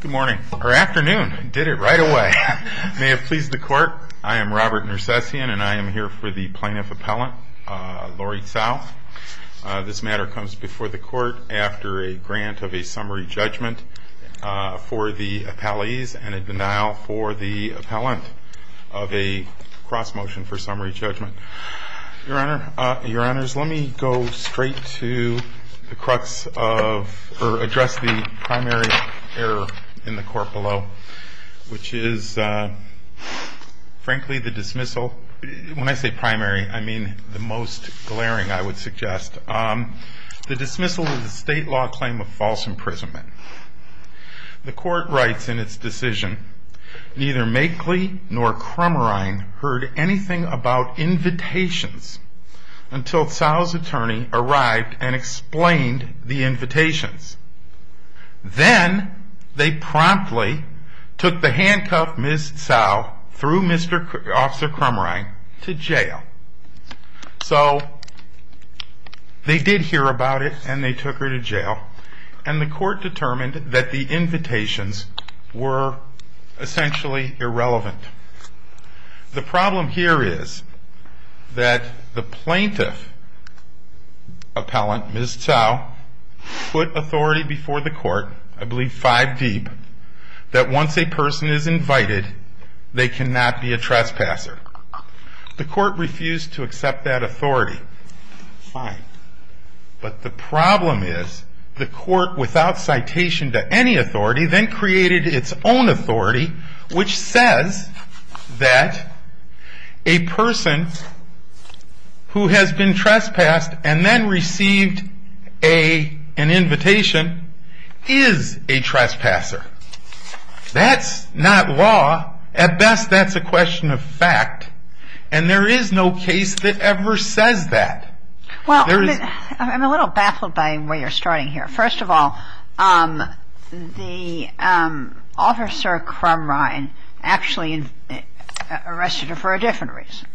Good morning, or afternoon. I did it right away. May it please the court, I am Robert Nersessian and I am here for the plaintiff appellant, Lori Tsao. This matter comes before the court after a grant of a summary judgment for the appellees and a denial for the appellant of a cross motion for summary judgment. Your honors, let me go straight to the crux of, or address the primary error in the court below, which is frankly the dismissal. When I say primary, I mean the most glaring, I would suggest. The dismissal is a state law claim of false imprisonment. The court writes in its decision, neither Makeley nor Crumrine heard anything about invitations until Tsao's attorney arrived and explained the invitations. Then, they promptly took the handcuffed Ms. Tsao through Mr. Crumrine to jail. So, they did hear about it and they took her to jail and the court determined that the invitations were essentially irrelevant. The problem here is that the plaintiff appellant, Ms. Tsao, put authority before the court, I believe five deep, that once a person is invited, they cannot be a trespasser. The court refused to accept that authority. Fine, but the problem is the court, without citation to any authority, then created its own authority, which says that a person who has been trespassed and then received an invitation is a trespasser. That's not law. At best, that's a question of fact. And there is no case that ever says that. Well, I'm a little baffled by where you're starting here. First of all, the officer Crumrine actually arrested her for a different reason.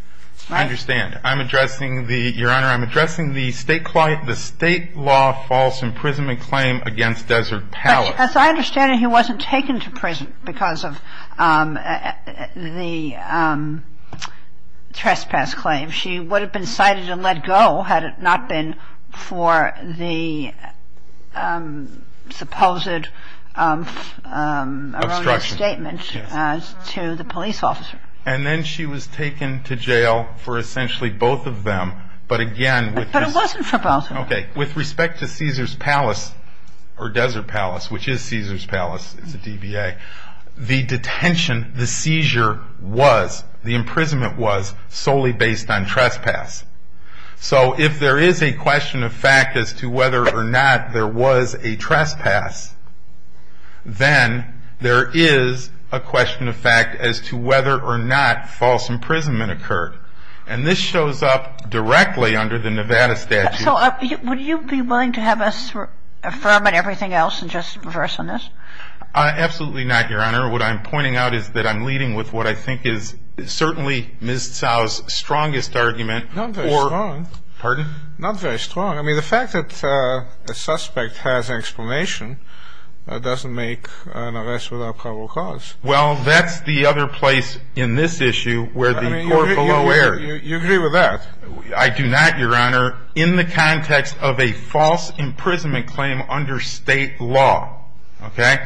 I understand. I'm addressing the, Your Honor, I'm addressing the state law false imprisonment claim against Desert Palace. As I understand it, he wasn't taken to prison because of the trespass claim. She would have been cited and let go had it not been for the supposed erroneous statement to the police officer. And then she was taken to jail for essentially both of them. But it wasn't for both of them. Okay. With respect to Caesar's Palace or Desert Palace, which is Caesar's Palace, it's a DBA, the detention, the seizure was, the imprisonment was solely based on trespass. So if there is a question of fact as to whether or not there was a trespass, then there is a question of fact as to whether or not false imprisonment occurred. And this shows up directly under the Nevada statute. So would you be willing to have us affirm on everything else and just reverse on this? Absolutely not, Your Honor. What I'm pointing out is that I'm leading with what I think is certainly Ms. Tsao's strongest argument. Not very strong. Pardon? Not very strong. I mean, the fact that a suspect has an explanation doesn't make an arrest without probable cause. Well, that's the other place in this issue where the court below errs. I mean, you agree with that. I do not, Your Honor, in the context of a false imprisonment claim under state law. Okay?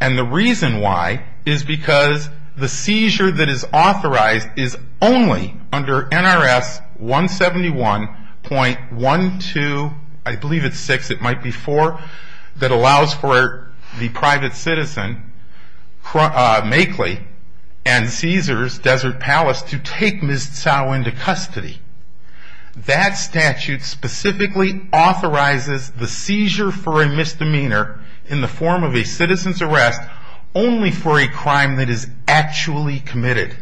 And the reason why is because the seizure that is authorized is only under NRS 171.12, I believe it's 6, it might be 4, that allows for the private citizen, Makley, and Caesar's Desert Palace to take Ms. Tsao into custody. That statute specifically authorizes the seizure for a misdemeanor in the form of a citizen's arrest only for a crime that is actually committed.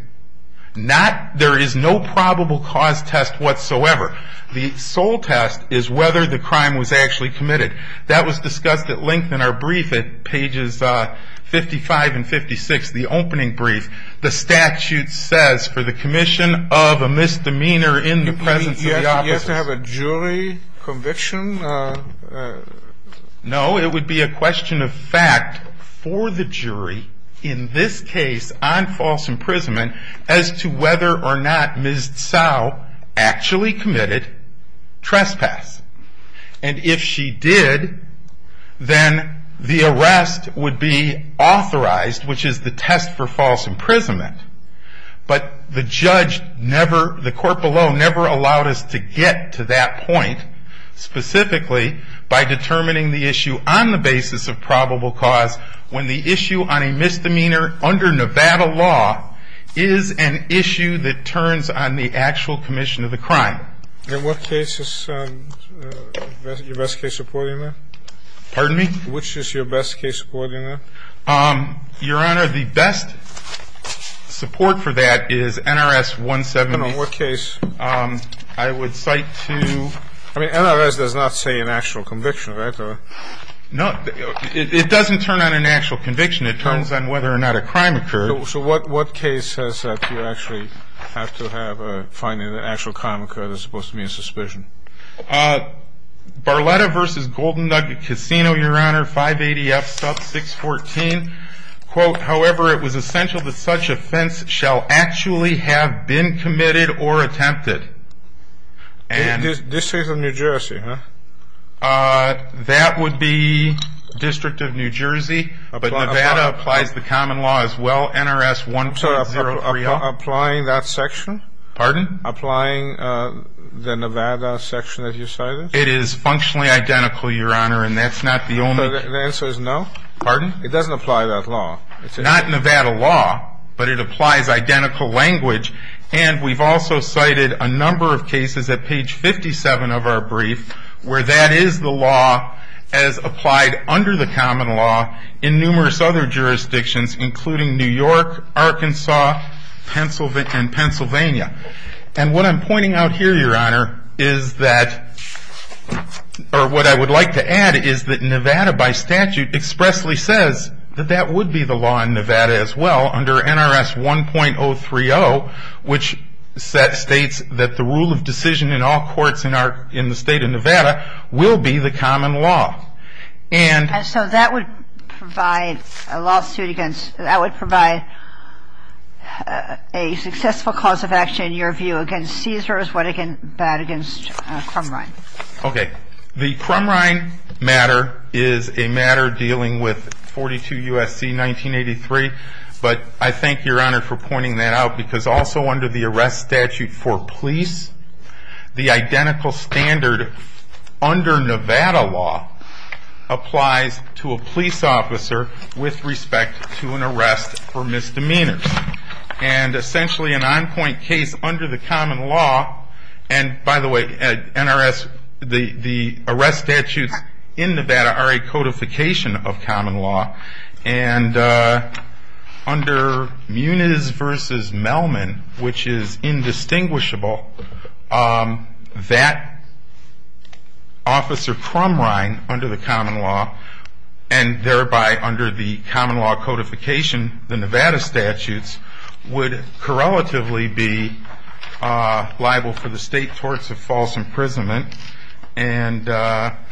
There is no probable cause test whatsoever. The sole test is whether the crime was actually committed. That was discussed at length in our brief at pages 55 and 56, the opening brief. The statute says for the commission of a misdemeanor in the presence of the opposite. You have to have a jury conviction? No, it would be a question of fact for the jury in this case on false imprisonment as to whether or not Ms. Tsao actually committed trespass. And if she did, then the arrest would be authorized, which is the test for false imprisonment. But the court below never allowed us to get to that point, specifically by determining the issue on the basis of probable cause when the issue on a misdemeanor under Nevada law is an issue that turns on the actual commission of the crime. In what case is your best case supporting that? Pardon me? Which is your best case supporting that? Your Honor, the best support for that is NRS 170. And on what case? I would cite to ñ I mean, NRS does not say an actual conviction, right? No. It doesn't turn on an actual conviction. It turns on whether or not a crime occurred. So what case says that you actually have to have a finding that an actual crime occurred is supposed to be a suspicion? Barletta v. Golden Nugget Casino, Your Honor, 580F sub 614. Quote, however, it was essential that such offense shall actually have been committed or attempted. District of New Jersey, huh? That would be District of New Jersey. But Nevada applies the common law as well, NRS 1403L. Applying that section? Pardon? Applying the Nevada section that you cited? It is functionally identical, Your Honor, and that's not the only ñ So the answer is no? Pardon? It doesn't apply that law. Not Nevada law, but it applies identical language. And we've also cited a number of cases at page 57 of our brief where that is the law as applied under the common law in numerous other jurisdictions, including New York, Arkansas, and Pennsylvania. And what I'm pointing out here, Your Honor, is that ñ or what I would like to add is that Nevada by statute expressly says that that would be the law in Nevada as well under NRS 1.030, which states that the rule of decision in all courts in the state of Nevada will be the common law. And ñ So that would provide a lawsuit against ñ that would provide a successful cause of action, in your view, against CSRS, what it can bad against Crumrine. Okay. The Crumrine matter is a matter dealing with 42 U.S.C. 1983. But I thank Your Honor for pointing that out because also under the arrest statute for police, the identical standard under Nevada law applies to a police officer with respect to an arrest for misdemeanors. And essentially an on-point case under the common law ñ and by the way, NRS, the arrest statutes in Nevada are a codification of common law. And under Muniz v. Melman, which is indistinguishable, that officer Crumrine under the common law and thereby under the common law codification, the Nevada statutes, would correlatively be liable for the state torts of false imprisonment. And the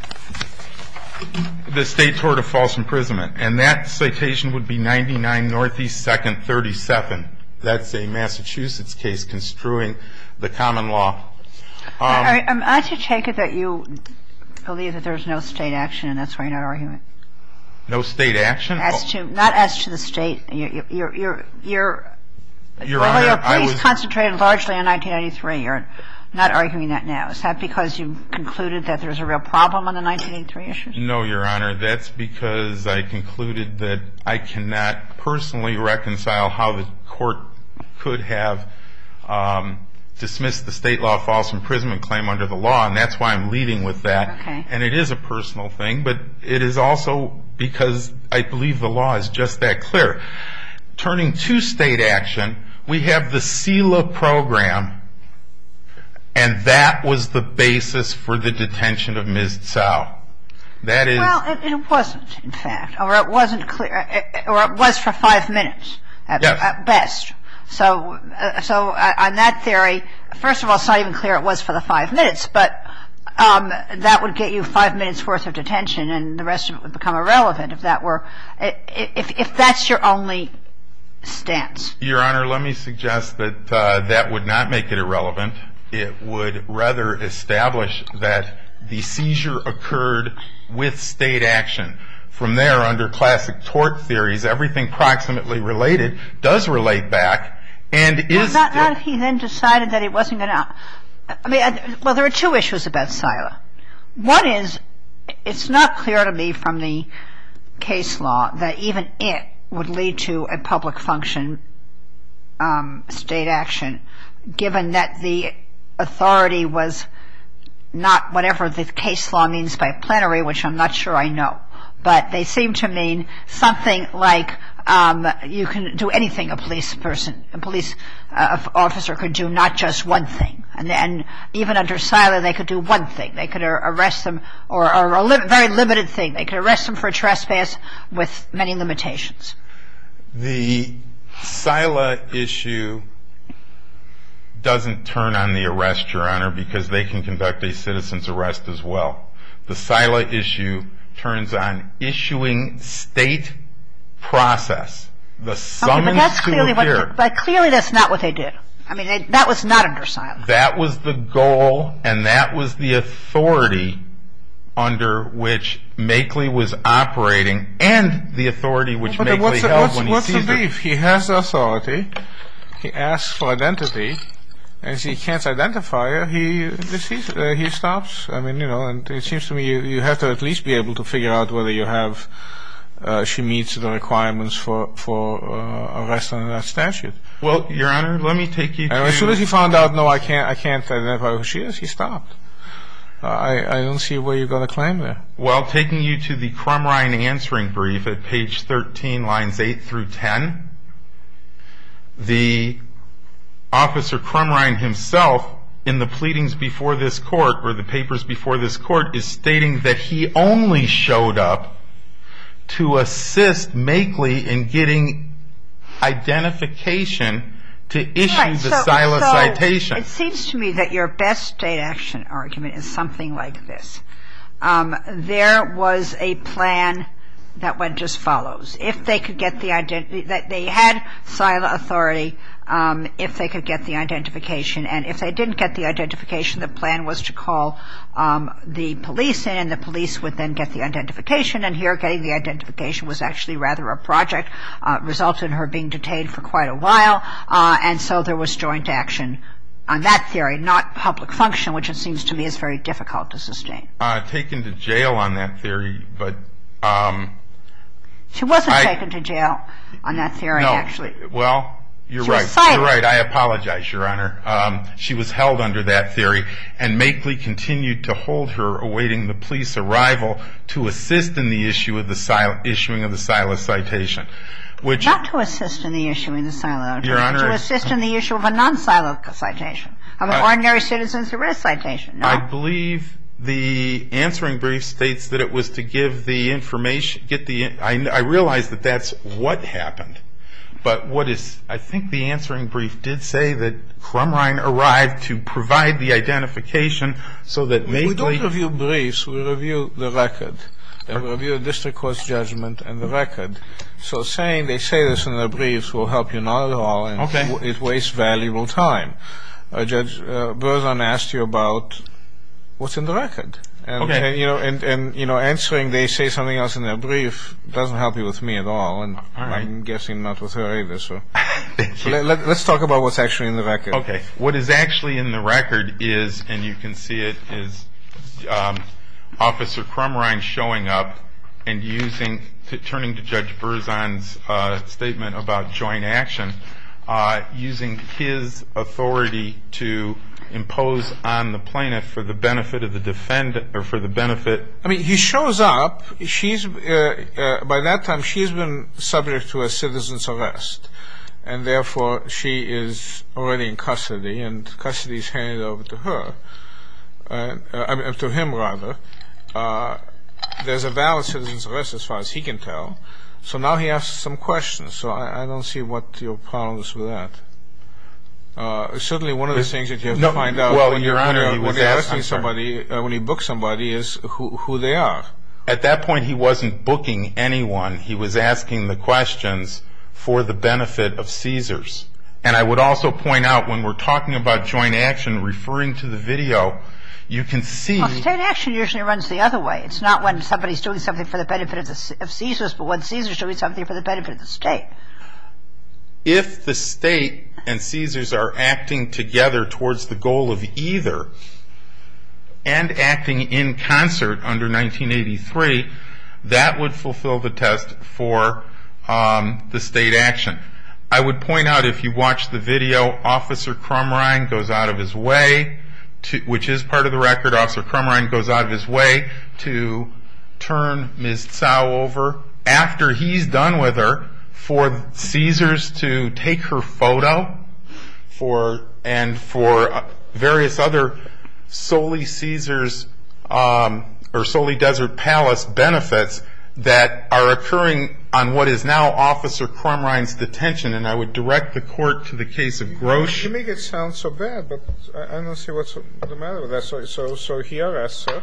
state tort of false imprisonment. And that citation would be 99 Northeast 2nd, 37. That's a Massachusetts case construing the common law. All right. I'm not to take it that you believe that there's no state action and that's why you're not arguing it. No state action? As to ñ not as to the state. You're ñ you're ñ Your Honor, I was ñ Well, your plea is concentrated largely on 1993. You're not arguing that now. Is that because you concluded that there's a real problem on the 1983 issue? No, your Honor. That's because I concluded that I cannot personally reconcile how the court could have dismissed the state law of false imprisonment claim under the law. And that's why I'm leading with that. Okay. And it is a personal thing. But it is also because I believe the law is just that clear. Turning to state action, we have the CELA program. And that was the basis for the detention of Ms. Tsao. That is ñ Well, it wasn't, in fact. Or it wasn't clear ñ or it was for five minutes at best. Yes. So on that theory, first of all, it's not even clear it was for the five minutes. But that would get you five minutes' worth of detention and the rest of it would become irrelevant if that were ñ if that's your only stance. Your Honor, let me suggest that that would not make it irrelevant. It would rather establish that the seizure occurred with state action. From there, under classic tort theories, everything proximately related does relate back and is ñ Well, not if he then decided that it wasn't going to ñ I mean, well, there are two issues about CELA. One is it's not clear to me from the case law that even it would lead to a public function state action, given that the authority was not whatever the case law means by plenary, which I'm not sure I know. But they seem to mean something like you can do anything a police person ñ a police officer could do, not just one thing. And even under CELA, they could do one thing. They could arrest them ñ or a very limited thing. They could arrest them for trespass with many limitations. The CELA issue doesn't turn on the arrest, Your Honor, because they can conduct a citizen's arrest as well. The CELA issue turns on issuing state process, the summons to appear. But clearly that's not what they did. I mean, that was not under CELA. That was the goal and that was the authority under which Makeley was operating and the authority which Makeley held when he seized her. What's the beef? He has authority. He asks for identity. As he can't identify her, he stops. I mean, you know, it seems to me you have to at least be able to figure out whether she meets the requirements for arrest under that statute. Well, Your Honor, let me take you to ñ As soon as he found out, no, I can't identify who she is, he stopped. I don't see where you're going to climb there. Well, taking you to the Crumrine answering brief at page 13, lines 8 through 10, the officer Crumrine himself in the pleadings before this court or the papers before this court is stating that he only showed up to assist Makeley in getting identification to issue the CELA citation. It seems to me that your best state action argument is something like this. There was a plan that went as follows. If they could get the ñ they had CELA authority if they could get the identification. And if they didn't get the identification, the plan was to call the police in and the police would then get the identification and here getting the identification was actually rather a project, resulted in her being detained for quite a while. And so there was joint action on that theory, not public function, which it seems to me is very difficult to sustain. Taken to jail on that theory, but ñ She wasn't taken to jail on that theory, actually. Well, you're right. She was cited. You're right. I apologize, Your Honor. She was held under that theory and Makeley continued to hold her, awaiting the police arrival to assist in the issue of the ñ issuing of the CELA citation, which ñ Not to assist in the issue of the CELA. Your Honor ñ To assist in the issue of a non-CELA citation, of an ordinary citizen's arrest citation. No. I believe the answering brief states that it was to give the information ñ get the ñ I realize that that's what happened. But what is ñ I think the answering brief did say that Crumrine arrived to provide the identification so that Makeley ñ We don't review briefs. We review the record. We review a district court's judgment and the record. So saying they say this in their briefs will help you not at all. Okay. And it wastes valuable time. Judge Berzon asked you about what's in the record. Okay. And answering they say something else in their brief doesn't help you with me at all. All right. And I'm guessing not with her either, so. Let's talk about what's actually in the record. Okay. What is actually in the record is ñ and you can see it ñ is Officer Crumrine showing up and using ñ turning to Judge Berzon's statement about joint action, using his authority to impose on the plaintiff for the benefit of the defendant or for the benefit ñ I mean, he shows up. She's ñ by that time, she's been subject to a citizen's arrest. And, therefore, she is already in custody and custody is handed over to her ñ to him, rather. There's a valid citizen's arrest as far as he can tell. So now he asks some questions. So I don't see what your problems with that. Certainly one of the things that you have to find out when you're asking somebody, when you book somebody, is who they are. At that point, he wasn't booking anyone. He was asking the questions for the benefit of Caesars. And I would also point out, when we're talking about joint action, referring to the video, you can see ñ Well, state action usually runs the other way. It's not when somebody's doing something for the benefit of Caesars, but when Caesars are doing something for the benefit of the state. If the state and Caesars are acting together towards the goal of either and acting in concert under 1983, that would fulfill the test for the state action. I would point out, if you watch the video, Officer Crumrine goes out of his way, which is part of the record. Officer Crumrine goes out of his way to turn Ms. Tsao over, after he's done with her, for Caesars to take her photo and for various other solely Caesars or solely Desert Palace benefits that are occurring on what is now Officer Crumrine's detention. And I would direct the court to the case of Grosch. You make it sound so bad, but I don't see what's the matter with that. So he arrests her.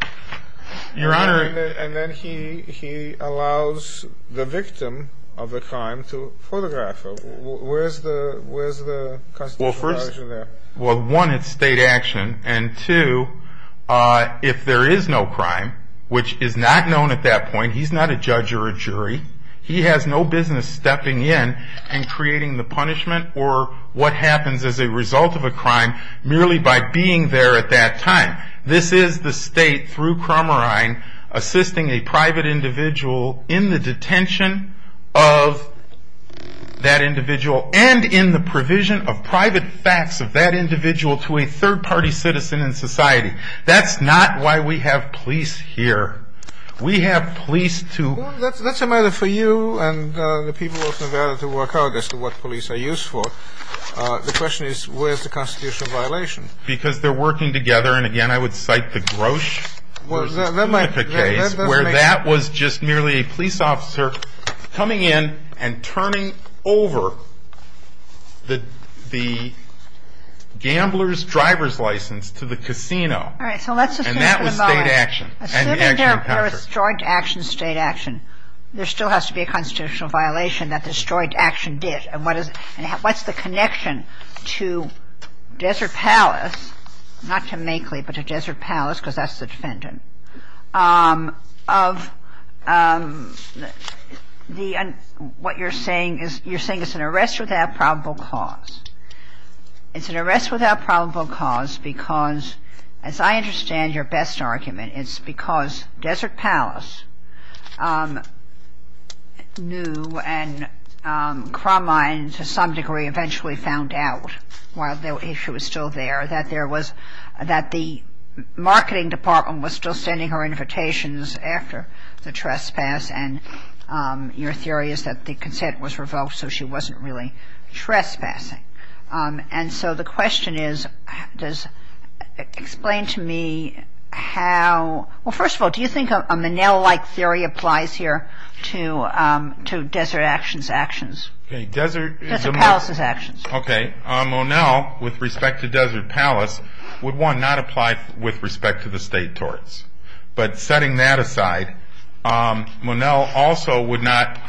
Your Honor. And then he allows the victim of the crime to photograph her. Where's the constitutional knowledge of that? Well, one, it's state action. And two, if there is no crime, which is not known at that point, he's not a judge or a jury. He has no business stepping in and creating the punishment or what happens as a result of a crime merely by being there at that time. This is the state, through Crumrine, assisting a private individual in the detention of that individual and in the provision of private facts of that individual to a third-party citizen in society. That's not why we have police here. We have police to ---- Well, that's a matter for you and the people of Nevada to work out as to what police are used for. The question is, where's the constitutional violation? Because they're working together. And, again, I would cite the Grosch. Where that was just merely a police officer coming in and turning over the gambler's driver's license to the casino. And that was state action. Assuming there was joint action, state action, there still has to be a constitutional violation that the joint action did. And what's the connection to Desert Palace, not to Makely, but to Desert Palace, because that's the defendant, of what you're saying is you're saying it's an arrest without probable cause. It's an arrest without probable cause because, as I understand your best argument, it's because Desert Palace knew and Crumrine, to some degree, eventually found out, while the issue was still there, that the marketing department was still sending her invitations after the trespass. And your theory is that the consent was revoked, so she wasn't really trespassing. And so the question is, explain to me how ---- Well, first of all, do you think a Minnell-like theory applies here to Desert Action's actions? Desert Palace's actions. Okay. Minnell, with respect to Desert Palace, would, one, not apply with respect to the state torts. But setting that aside, Minnell also would not ----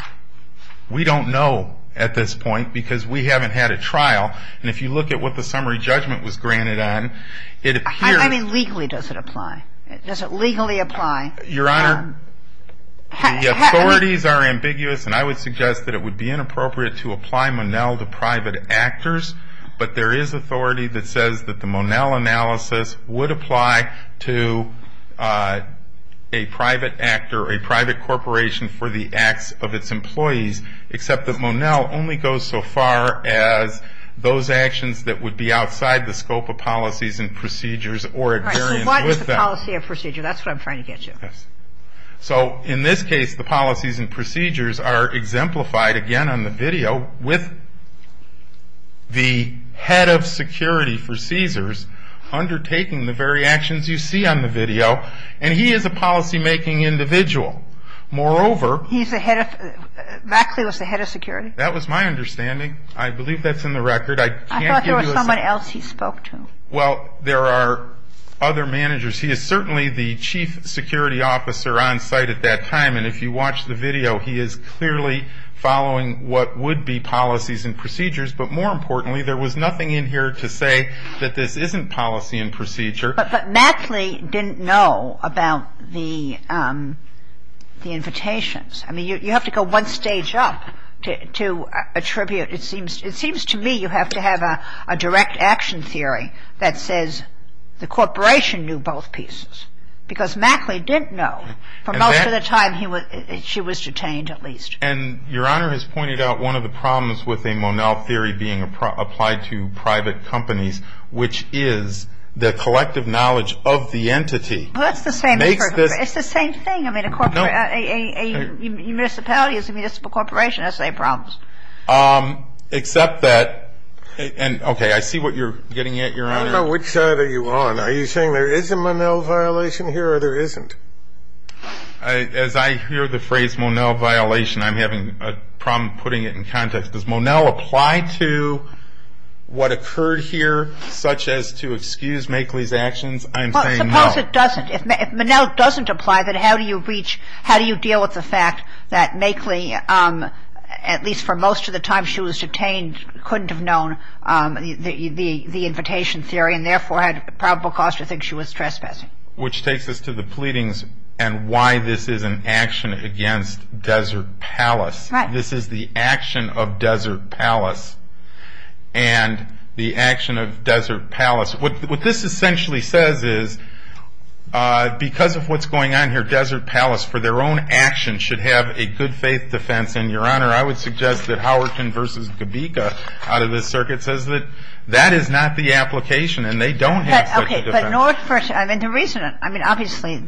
We don't know at this point because we haven't had a trial. And if you look at what the summary judgment was granted on, it appears ---- I mean, legally does it apply? Does it legally apply? Your Honor, the authorities are ambiguous, and I would suggest that it would be inappropriate to apply Minnell to private actors. But there is authority that says that the Minnell analysis would apply to a private actor, a private corporation for the acts of its employees, except that Minnell only goes so far as those actions that would be outside the scope of policies and procedures. All right. So why is the policy a procedure? That's what I'm trying to get to. Yes. So in this case, the policies and procedures are exemplified, again, on the video, with the head of security for Caesars undertaking the very actions you see on the video. And he is a policymaking individual. Moreover ---- He's the head of ---- Maxley was the head of security? That was my understanding. I believe that's in the record. I can't give you a ---- I thought there was someone else he spoke to. Well, there are other managers. He is certainly the chief security officer on site at that time. And if you watch the video, he is clearly following what would be policies and procedures. But more importantly, there was nothing in here to say that this isn't policy and procedure. But Maxley didn't know about the invitations. I mean, you have to go one stage up to attribute. It seems to me you have to have a direct action theory that says the corporation knew both pieces. Because Maxley didn't know. For most of the time, he was ---- she was detained, at least. And Your Honor has pointed out one of the problems with a Monell theory being applied to private companies, which is the collective knowledge of the entity makes this ---- Well, that's the same thing. It's the same thing. I mean, a municipality is a municipal corporation. That's the same problem. Except that ---- and, okay, I see what you're getting at, Your Honor. I don't know which side are you on. Are you saying there is a Monell violation here or there isn't? As I hear the phrase Monell violation, I'm having a problem putting it in context. Does Monell apply to what occurred here, such as to excuse Maxley's actions? I'm saying no. Well, suppose it doesn't. If Monell doesn't apply, then how do you reach ---- how do you deal with the fact that Maxley, at least for most of the time she was detained, couldn't have known the invitation theory and therefore had probable cause to think she was trespassing? Which takes us to the pleadings and why this is an action against Desert Palace. Right. This is the action of Desert Palace and the action of Desert Palace. What this essentially says is because of what's going on here, Desert Palace, for their own actions, should have a good-faith defense. And, Your Honor, I would suggest that Howerton v. Gabika out of this circuit says that that is not the application and they don't have such a defense. Okay. But nor for ---- I mean, the reason ---- I mean, obviously,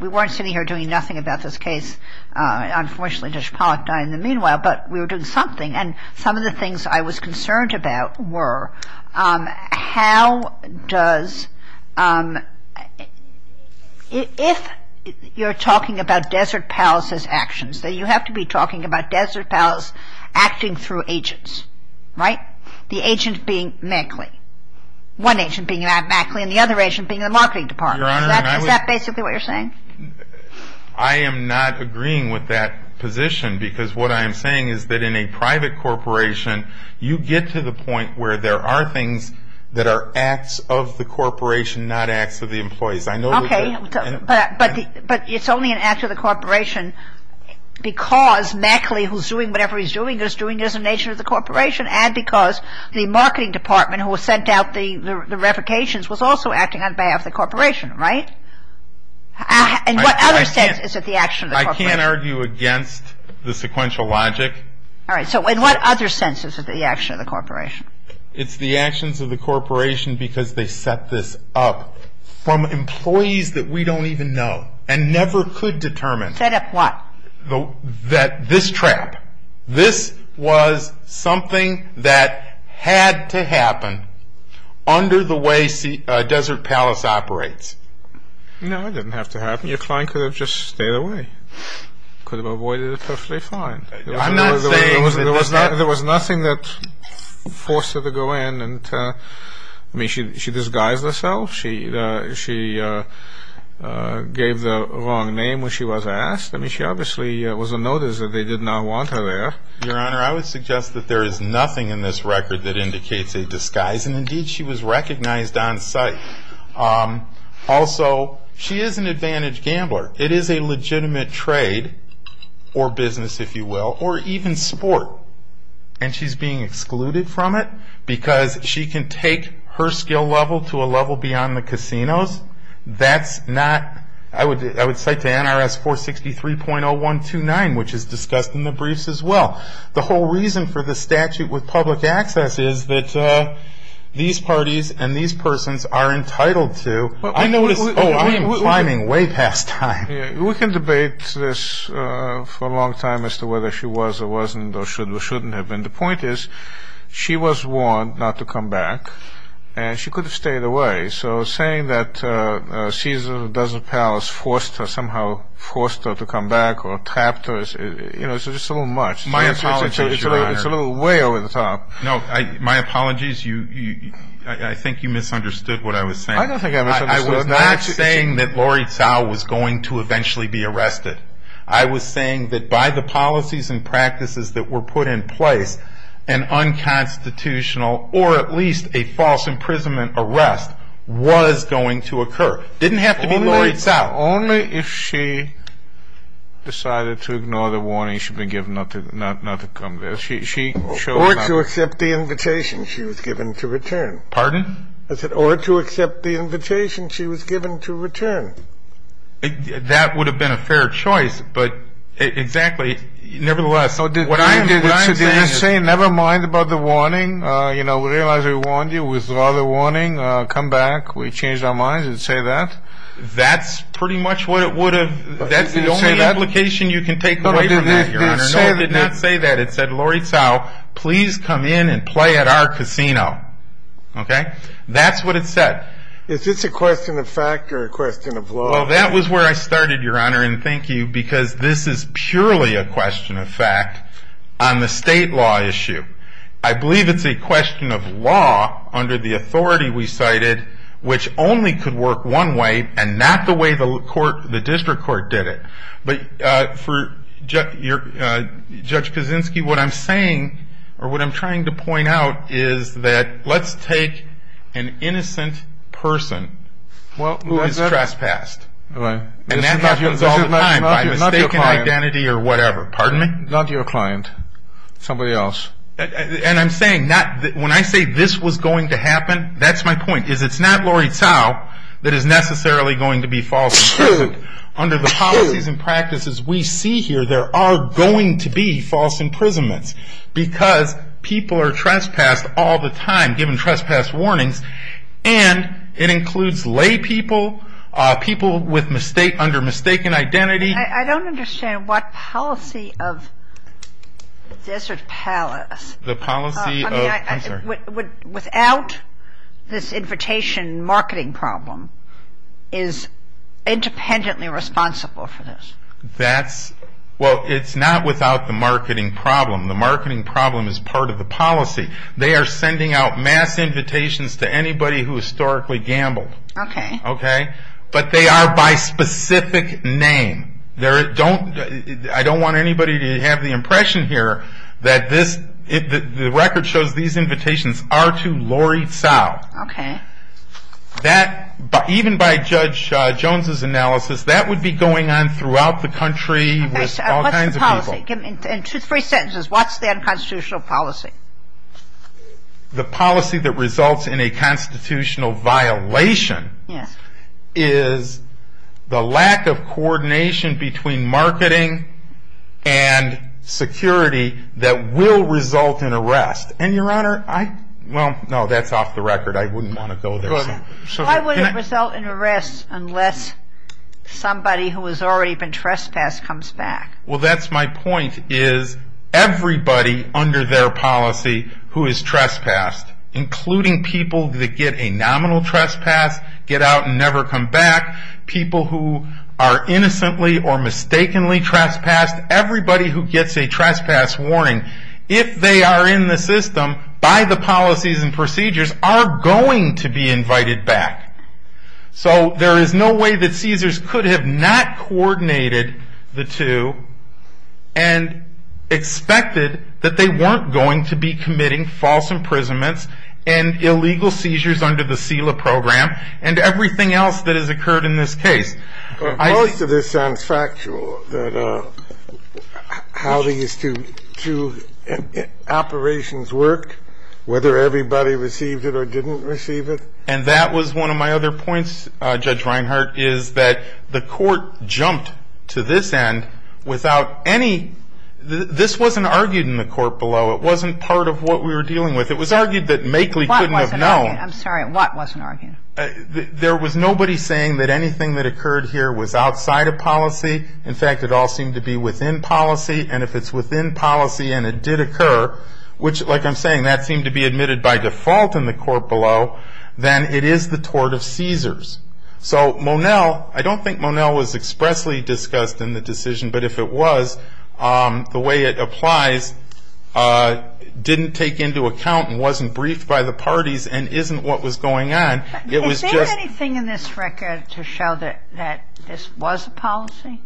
we weren't sitting here doing nothing about this case. Unfortunately, Judge Pollack died in the meanwhile. But we were doing something. And some of the things I was concerned about were how does ---- if you're talking about Desert Palace's actions, you have to be talking about Desert Palace acting through agents. Right? The agent being Maxley. One agent being Maxley and the other agent being the marketing department. Your Honor, I would ---- Is that basically what you're saying? I am not agreeing with that position because what I am saying is that in a private corporation, you get to the point where there are things that are acts of the corporation, not acts of the employees. I know that ---- Okay. But it's only an act of the corporation because Maxley, who's doing whatever he's doing, is doing it as an agent of the corporation and because the marketing department, who sent out the revocations, was also acting on behalf of the corporation. Right? And what other sense is it the action of the corporation? I can't argue against the sequential logic. All right. So in what other sense is it the action of the corporation? It's the actions of the corporation because they set this up from employees that we don't even know and never could determine. Set up what? That this trap, this was something that had to happen under the way Desert Palace operates. No, it didn't have to happen. Your client could have just stayed away. Could have avoided it perfectly fine. I'm not saying ---- There was nothing that forced her to go in. I mean, she disguised herself. She gave the wrong name when she was asked. I mean, she obviously was a notice that they did not want her there. Your Honor, I would suggest that there is nothing in this record that indicates a disguise, and indeed she was recognized on site. Also, she is an advantaged gambler. It is a legitimate trade or business, if you will, or even sport, and she's being excluded from it because she can take her skill level to a level beyond the casinos. That's not ---- I would cite the NRS 463.0129, which is discussed in the briefs as well. The whole reason for the statute with public access is that these parties and these persons are entitled to ---- I know what it's ---- Oh, I am climbing way past time. We can debate this for a long time as to whether she was or wasn't or should or shouldn't have been. The point is she was warned not to come back, and she could have stayed away. So saying that Caesar of Desert Palace forced her, somehow forced her to come back or trapped her is just a little much. My apologies, Your Honor. It's a little way over the top. No, my apologies. I think you misunderstood what I was saying. I don't think I misunderstood. I was not saying that Laurie Tsao was going to eventually be arrested. I was saying that by the policies and practices that were put in place, an unconstitutional or at least a false imprisonment arrest was going to occur. It didn't have to be Laurie Tsao. Only if she decided to ignore the warning she'd been given not to come back. Or to accept the invitation she was given to return. Pardon? I said, or to accept the invitation she was given to return. That would have been a fair choice, but exactly. Nevertheless, what I'm saying is ---- So did you say, never mind about the warning, you know, realize we warned you, withdraw the warning, come back, we changed our minds and say that? That's pretty much what it would have, that's the only implication you can take away from that, Your Honor. No, it did not say that. It said, Laurie Tsao, please come in and play at our casino. Okay? That's what it said. Is this a question of fact or a question of law? Well, that was where I started, Your Honor, and thank you, because this is purely a question of fact on the state law issue. I believe it's a question of law under the authority we cited, which only could work one way and not the way the district court did it. But for Judge Kaczynski, what I'm saying, or what I'm trying to point out, is that let's take an innocent person who is trespassed. And that happens all the time by mistaken identity or whatever. Pardon me? Not your client, somebody else. And I'm saying, when I say this was going to happen, that's my point, is it's not Laurie Tsao that is necessarily going to be false imprisonment. Under the policies and practices we see here, there are going to be false imprisonments, because people are trespassed all the time, given trespass warnings, and it includes lay people, people under mistaken identity. I don't understand what policy of Desert Palace, without this invitation marketing problem, is independently responsible for this. Well, it's not without the marketing problem. The marketing problem is part of the policy. They are sending out mass invitations to anybody who historically gambled. Okay. But they are by specific name. I don't want anybody to have the impression here that the record shows these invitations are to Laurie Tsao. Okay. That, even by Judge Jones' analysis, that would be going on throughout the country with all kinds of people. What's the policy? In three sentences, what's the unconstitutional policy? The policy that results in a constitutional violation is the lack of coordination between marketing and security that will result in arrest. And, Your Honor, I, well, no, that's off the record. I wouldn't want to go there. Go ahead. Why would it result in arrest unless somebody who has already been trespassed comes back? Well, that's my point, is everybody under their policy who is trespassed, including people that get a nominal trespass, get out and never come back, people who are innocently or mistakenly trespassed, everybody who gets a trespass warning, if they are in the system, by the policies and procedures, are going to be invited back. So there is no way that CSERS could have not coordinated the two and expected that they weren't going to be committing false imprisonments and illegal seizures under the SELA program and everything else that has occurred in this case. But most of this sounds factual, that how these two operations work, whether everybody received it or didn't receive it. And that was one of my other points, Judge Reinhart, is that the court jumped to this end without any, this wasn't argued in the court below. It wasn't part of what we were dealing with. It was argued that Makley couldn't have known. I'm sorry. What wasn't argued? There was nobody saying that anything that occurred here was outside of policy. In fact, it all seemed to be within policy. And if it's within policy and it did occur, which, like I'm saying, that seemed to be admitted by default in the court below, then it is the tort of CSERS. So Monell, I don't think Monell was expressly discussed in the decision, but if it was, the way it applies didn't take into account and wasn't briefed by the parties and isn't what was going on. It was just — If there's anything in this record to show that this was a policy,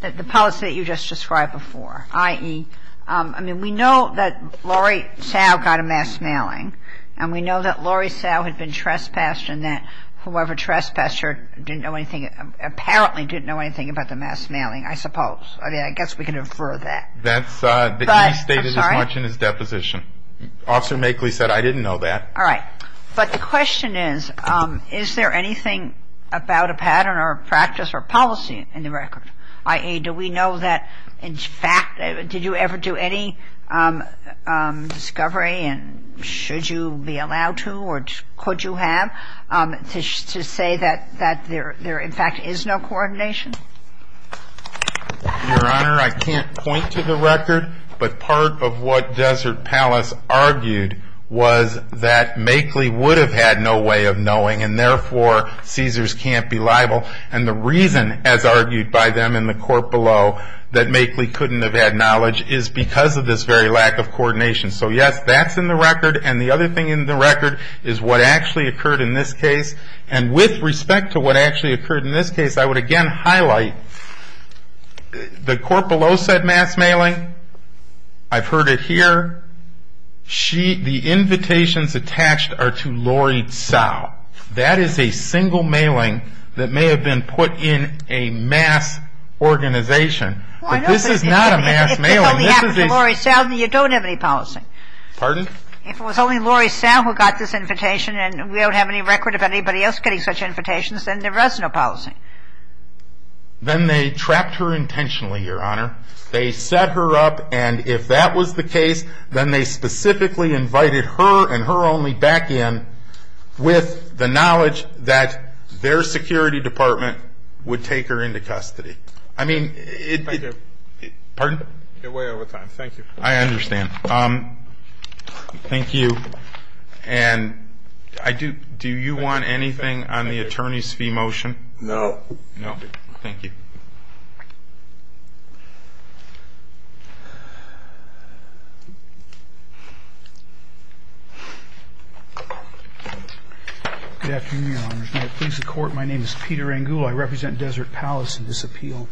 the policy that you just described before, i.e. I mean, we know that Lori Sow got a mass mailing. And we know that Lori Sow had been trespassed and that whoever trespassed her didn't know anything, apparently didn't know anything about the mass mailing, I suppose. I mean, I guess we could infer that. That's the case stated as much in his deposition. Officer Makley said, I didn't know that. All right. But the question is, is there anything about a pattern or a practice or policy in the record? I.e., do we know that, in fact, did you ever do any discovery and should you be allowed to or could you have to say that there, in fact, is no coordination? Your Honor, I can't point to the record, but part of what Desert Palace argued was that Makley would have had no way of knowing and, therefore, CSERS can't be liable. And the reason, as argued by them in the court below, that Makley couldn't have had knowledge is because of this very lack of coordination. So, yes, that's in the record. And the other thing in the record is what actually occurred in this case. And with respect to what actually occurred in this case, I would again highlight the court below said mass mailing. I've heard it here. The invitations attached are to Lori Sow. That is a single mailing that may have been put in a mass organization. But this is not a mass mailing. If it only happened to Lori Sow, then you don't have any policy. Pardon? If it was only Lori Sow who got this invitation and we don't have any record of anybody else getting such invitations, then there was no policy. Then they trapped her intentionally, Your Honor. They set her up, and if that was the case, then they specifically invited her and her only back in with the knowledge that their security department would take her into custody. I mean, pardon? You're way over time. Thank you. I understand. Thank you. And do you want anything on the attorney's fee motion? No. No? Thank you. Thank you. Good afternoon, Your Honors. My name is Peter Angula. I represent Desert Palace in this appeal.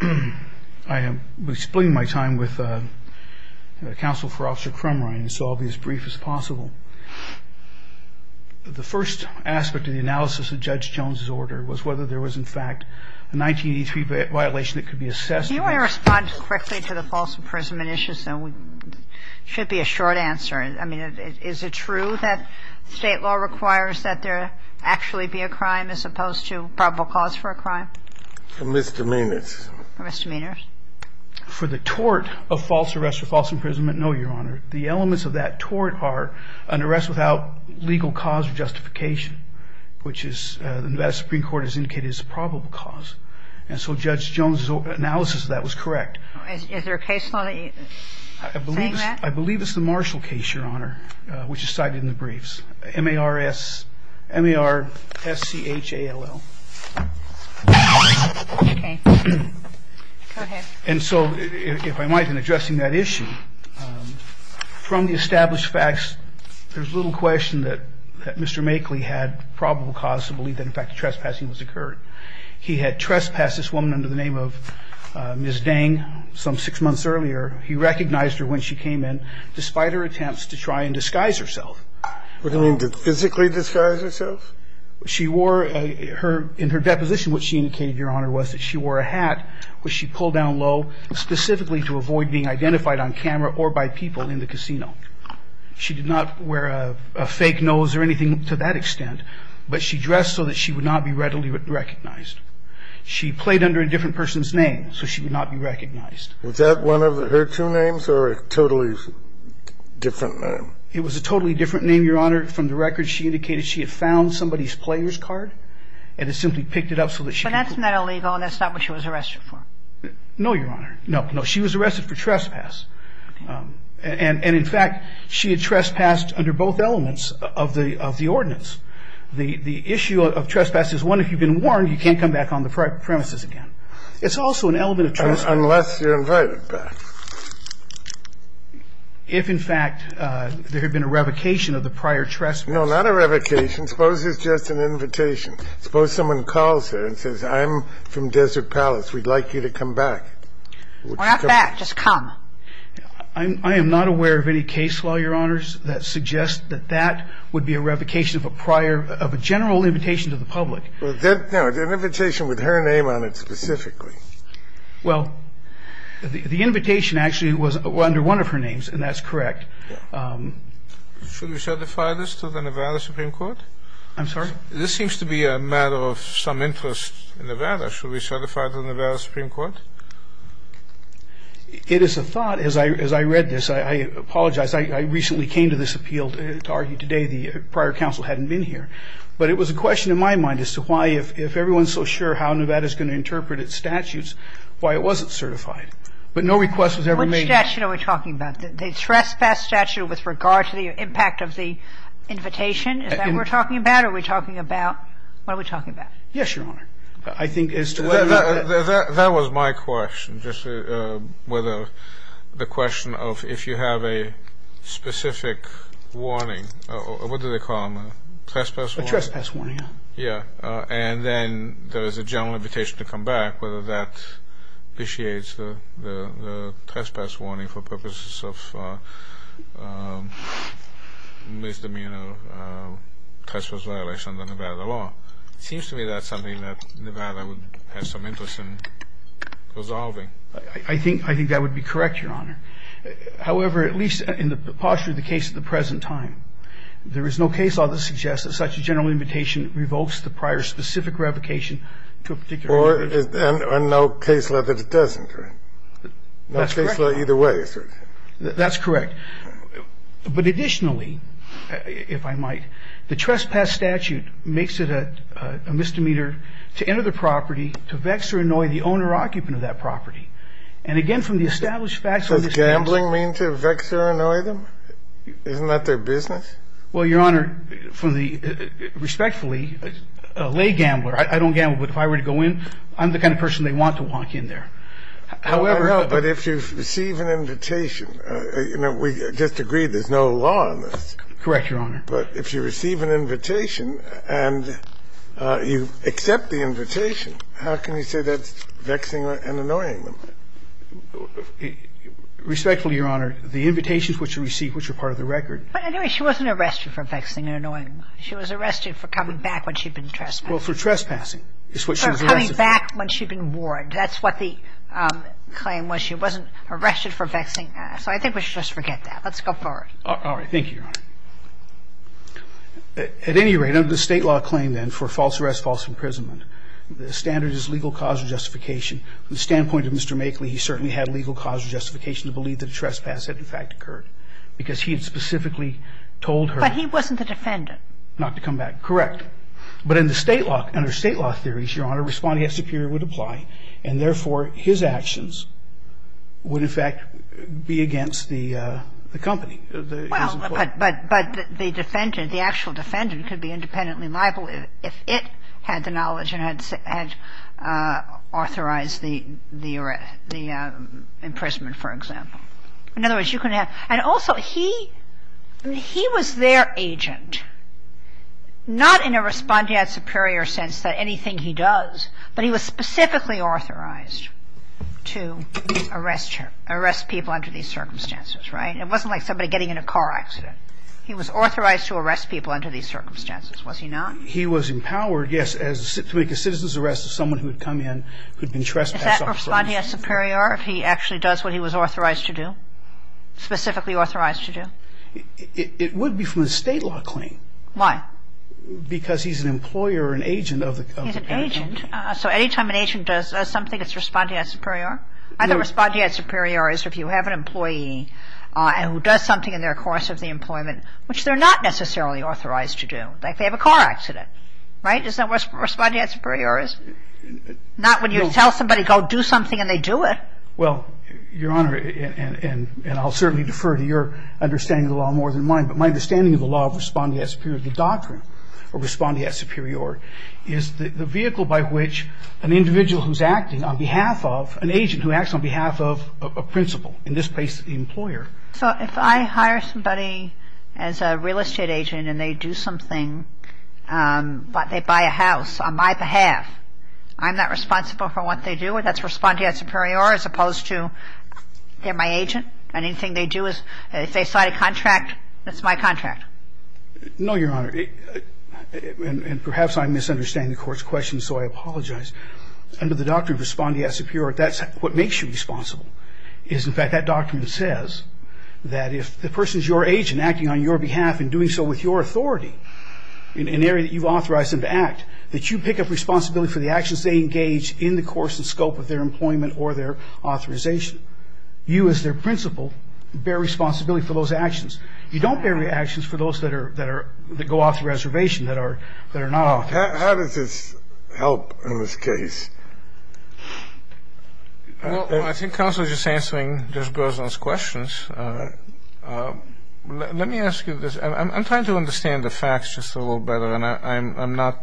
I am splitting my time with counsel for Officer Crumrine, so I'll be as brief as possible. The first aspect of the analysis of Judge Jones's order was whether there was, in fact, a 1983 violation that could be assessed. Do you want to respond quickly to the false imprisonment issue? It should be a short answer. I mean, is it true that State law requires that there actually be a crime as opposed to probable cause for a crime? Misdemeanors. Misdemeanors. For the tort of false arrest or false imprisonment, no, Your Honor. The elements of that tort are an arrest without legal cause or justification, which the Nevada Supreme Court has indicated is a probable cause. And so Judge Jones's analysis of that was correct. Is there a case law that you're saying that? I believe it's the Marshall case, Your Honor, which is cited in the briefs, M-A-R-S-C-H-A-L-L. Okay. Go ahead. And so if I might, in addressing that issue, from the established facts, there's little question that Mr. Makeley had probable cause to believe that, in fact, a trespassing was occurred. He had trespassed this woman under the name of Ms. Dang some six months earlier. He recognized her when she came in, despite her attempts to try and disguise herself. What do you mean, to physically disguise herself? She wore a her – in her deposition, what she indicated, Your Honor, was that she wore a hat, which she pulled down low specifically to avoid being identified on camera or by people in the casino. She did not wear a fake nose or anything to that extent, but she dressed so that she would not be readily recognized. She played under a different person's name, so she would not be recognized. Was that one of her two names or a totally different name? It was a totally different name, Your Honor. From the records, she indicated she had found somebody's player's card and had simply picked it up so that she could – But that's not illegal and that's not what she was arrested for. No, Your Honor. No, no. She was arrested for trespass. Okay. And in fact, she had trespassed under both elements of the – of the ordinance. The issue of trespass is, one, if you've been warned, you can't come back on the premises again. It's also an element of trespass – Unless you're invited back. If, in fact, there had been a revocation of the prior trespass. No, not a revocation. Suppose it's just an invitation. Suppose someone calls her and says, I'm from Desert Palace. We'd like you to come back. We're not back. Just come. I am not aware of any case law, Your Honors, that suggests that that would be a revocation of a prior – of a general invitation to the public. No, an invitation with her name on it specifically. Well, the invitation actually was under one of her names, and that's correct. Should we certify this to the Nevada Supreme Court? I'm sorry? This seems to be a matter of some interest in Nevada. Should we certify it to the Nevada Supreme Court? It is a thought. As I read this, I apologize. I recently came to this appeal to argue today the prior counsel hadn't been here. But it was a question in my mind as to why, if everyone's so sure how Nevada is going to interpret its statutes, why it wasn't certified. But no request was ever made. Which statute are we talking about? The trespass statute with regard to the impact of the invitation? Is that what we're talking about? Are we talking about – what are we talking about? Yes, Your Honor. I think as to whether the – That was my question, just whether the question of if you have a specific warning – what do they call them, a trespass warning? A trespass warning, yeah. Yeah. And then there is a general invitation to come back, whether that initiates the trespass warning for purposes of misdemeanor trespass violation under Nevada law. It seems to me that's something that Nevada would have some interest in resolving. I think that would be correct, Your Honor. However, at least in the posture of the case at the present time, there is no case law that suggests that such a general invitation Or no case law that doesn't. That's correct. No case law either way. That's correct. But additionally, if I might, the trespass statute makes it a misdemeanor to enter the property, to vex or annoy the owner or occupant of that property. And again, from the established facts of this case – Does gambling mean to vex or annoy them? Isn't that their business? Well, Your Honor, from the – respectfully, a lay gambler – I don't gamble, but if I were to go in, I'm the kind of person they want to walk in there. However – But if you receive an invitation – you know, we just agreed there's no law on this. Correct, Your Honor. But if you receive an invitation and you accept the invitation, how can you say that's vexing and annoying them? Respectfully, Your Honor, the invitations which are received, which are part of the record – But anyway, she wasn't arrested for vexing and annoying them. She was arrested for coming back when she'd been trespassed. Well, for trespassing is what she was arrested for. For coming back when she'd been warned. That's what the claim was. She wasn't arrested for vexing them. So I think we should just forget that. Let's go forward. All right. Thank you, Your Honor. At any rate, under the State law claim, then, for false arrest, false imprisonment, the standard is legal cause or justification. From the standpoint of Mr. Makeley, he certainly had legal cause or justification to believe that a trespass had, in fact, occurred because he had specifically told her – But he wasn't the defendant. Not to come back. Correct. But in the State law – under State law theories, Your Honor, responding as superior would apply, and therefore, his actions would, in fact, be against the company, his employees. Well, but the defendant, the actual defendant, could be independently liable if it had the knowledge and had authorized the imprisonment, for example. In other words, you can have – and also, he was their agent. Not in a responding as superior sense that anything he does, but he was specifically authorized to arrest her, arrest people under these circumstances, right? It wasn't like somebody getting in a car accident. He was authorized to arrest people under these circumstances, was he not? He was empowered, yes, to make a citizen's arrest of someone who had come in, who had been trespassed off – Is that responding as superior if he actually does what he was authorized to do, specifically authorized to do? It would be from a State law claim. Why? Because he's an employer, an agent of the company. He's an agent. So any time an agent does something, it's responding as superior? Either responding as superior is if you have an employee who does something in their course of the employment, which they're not necessarily authorized to do, like they have a car accident, right? Is that responding as superior? Not when you tell somebody, go do something, and they do it. Well, Your Honor, and I'll certainly defer to your understanding of the law more than mine, but my understanding of the law of responding as superior to the doctrine of responding as superior is the vehicle by which an individual who's acting on behalf of – an agent who acts on behalf of a principal, in this case the employer. So if I hire somebody as a real estate agent and they do something, but they buy a house on my behalf, I'm not responsible for what they do? That's responding as superior as opposed to they're my agent, and anything they do is if they sign a contract, that's my contract. No, Your Honor. And perhaps I'm misunderstanding the Court's question, so I apologize. Under the doctrine of responding as superior, that's what makes you responsible. In fact, that doctrine says that if the person's your agent acting on your behalf and doing so with your authority in an area that you've authorized them to act, that you pick up responsibility for the actions they engage in the course and scope of their employment or their authorization. You, as their principal, bear responsibility for those actions. You don't bear the actions for those that are – that go off the reservation, that are not authorized. How does this help in this case? Well, I think counsel is just answering Judge Berzon's questions. Let me ask you this. I'm trying to understand the facts just a little better, and I'm not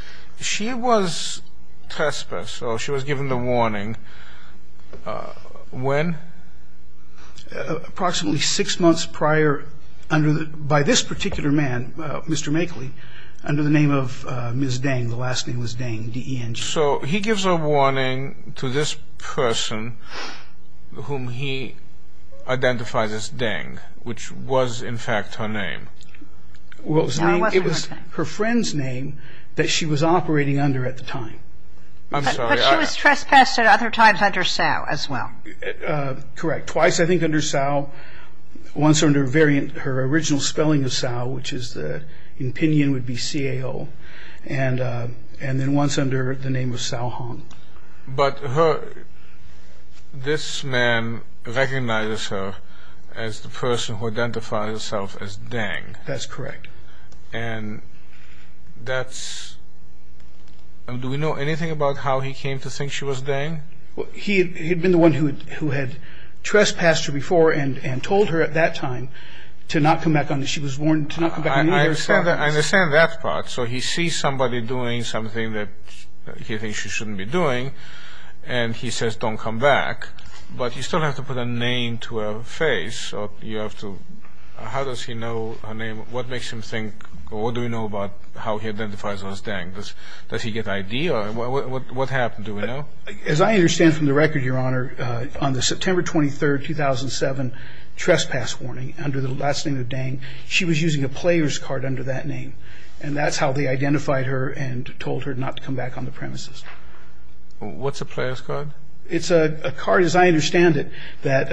– she was trespassed, so she was given the warning. When? Approximately six months prior by this particular man, Mr. Makeley, under the name of Ms. Deng, the last name was Deng, D-E-N-G. So he gives a warning to this person whom he identifies as Deng, which was, in fact, her name. No, it wasn't her name. It was her friend's name that she was operating under at the time. I'm sorry. But she was trespassed at other times under Sal as well. Correct. Twice, I think, under Sal. Once under variant – her original spelling of Sal, which is the – in opinion would be C-A-L. And then once under the name of Sal Hong. But her – this man recognizes her as the person who identifies herself as Deng. That's correct. And that's – do we know anything about how he came to think she was Deng? He had been the one who had trespassed her before and told her at that time to not come back on this. I understand that part. So he sees somebody doing something that he thinks she shouldn't be doing, and he says don't come back. But you still have to put a name to her face. You have to – how does he know her name? What makes him think – or what do we know about how he identifies herself as Deng? Does he get ID? What happened? Do we know? As I understand from the record, Your Honor, on the September 23, 2007, trespass warning, under the last name of Deng, she was using a player's card under that name. And that's how they identified her and told her not to come back on the premises. What's a player's card? It's a card, as I understand it, that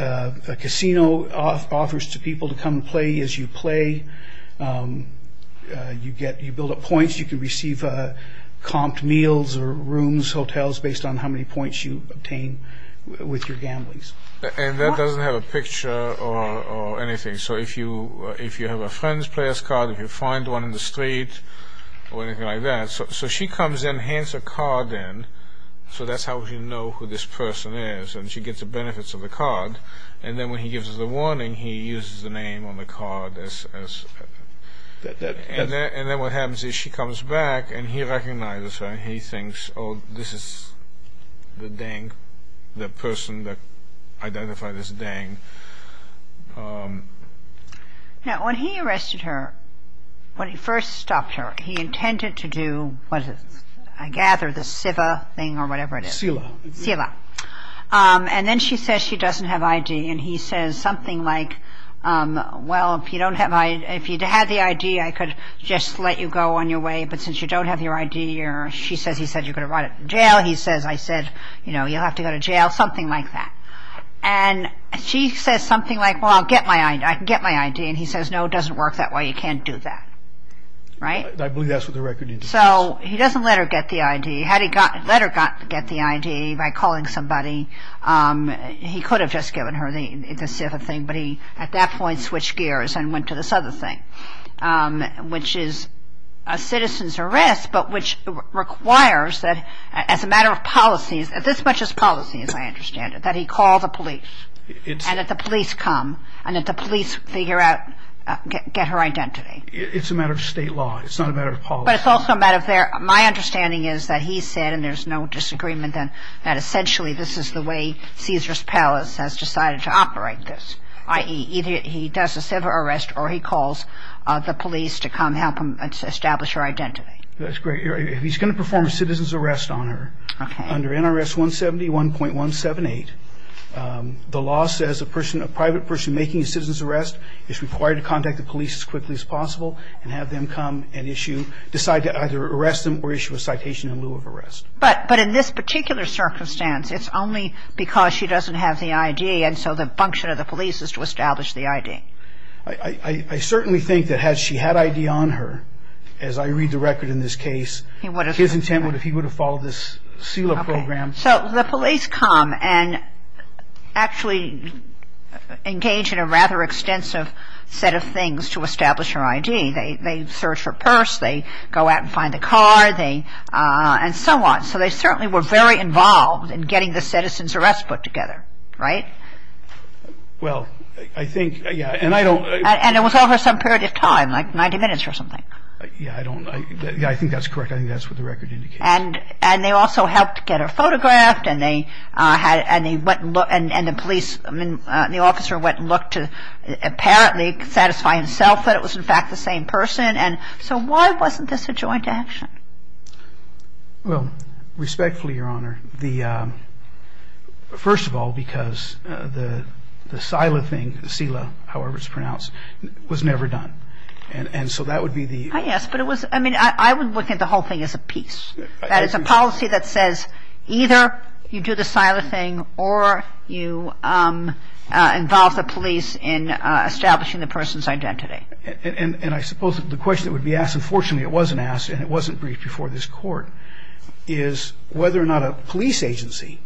a casino offers to people to come and play. As you play, you get – you build up points. You can receive comped meals or rooms, hotels, based on how many points you obtain with your gamblings. And that doesn't have a picture or anything. So if you have a friend's player's card, if you find one in the street or anything like that, so she comes in, hands her card in, so that's how you know who this person is, and she gets the benefits of the card. And then when he gives her the warning, he uses the name on the card as – and then what happens is she comes back, and he recognizes her, and he thinks, oh, this is the Deng, the person that identified as Deng. Now, when he arrested her, when he first stopped her, he intended to do, what is it? I gather the SIVA thing or whatever it is. SILA. SILA. And then she says she doesn't have ID, and he says something like, well, if you don't have – if you had the ID, I could just let you go on your way, but since you don't have your ID, she says he said you could have brought it to jail. He says, I said, you know, you'll have to go to jail, something like that. And she says something like, well, I'll get my ID. I can get my ID. And he says, no, it doesn't work that way. You can't do that. Right? So he doesn't let her get the ID. Had he let her get the ID by calling somebody, he could have just given her the SIVA thing, but he at that point switched gears and went to this other thing, which is a citizen's arrest, but which requires that as a matter of policy, as much as policy as I understand it, that he call the police and that the police come and that the police figure out – get her identity. It's a matter of state law. It's not a matter of policy. But it's also a matter of their – my understanding is that he said, and there's no disagreement then, that essentially this is the way Caesar's Palace has decided to operate this, i.e., either he does a SIVA arrest or he calls the police to come help him establish her identity. That's great. He's going to perform a citizen's arrest on her. Okay. Under NRS 170.178, the law says a person – a private person making a citizen's arrest is required to contact the police as quickly as possible and have them come and issue – decide to either arrest them or issue a citation in lieu of arrest. But in this particular circumstance, it's only because she doesn't have the ID and so the function of the police is to establish the ID. I certainly think that had she had ID on her, as I read the record in this case, his intent would have – he would have followed this SILA program. Okay. So the police come and actually engage in a rather extensive set of things to establish her ID. They search her purse. They go out and find the car. They – and so on. So they certainly were very involved in getting the citizen's arrest put together, right? Well, I think – yeah. And I don't – And it was over some period of time, like 90 minutes or something. Yeah, I don't – yeah, I think that's correct. I think that's what the record indicates. And they also helped get her photographed and they went and – and the police – I mean, the officer went and looked to apparently satisfy himself that it was, in fact, the same person. And so why wasn't this a joint action? Well, respectfully, Your Honor, the – the SILA thing, SILA, however it's pronounced, was never done. And so that would be the – Yes, but it was – I mean, I would look at the whole thing as a piece. That it's a policy that says either you do the SILA thing or you involve the police in establishing the person's identity. And I suppose the question that would be asked, and fortunately it wasn't asked and it wasn't briefed before this Court, is whether or not a police agency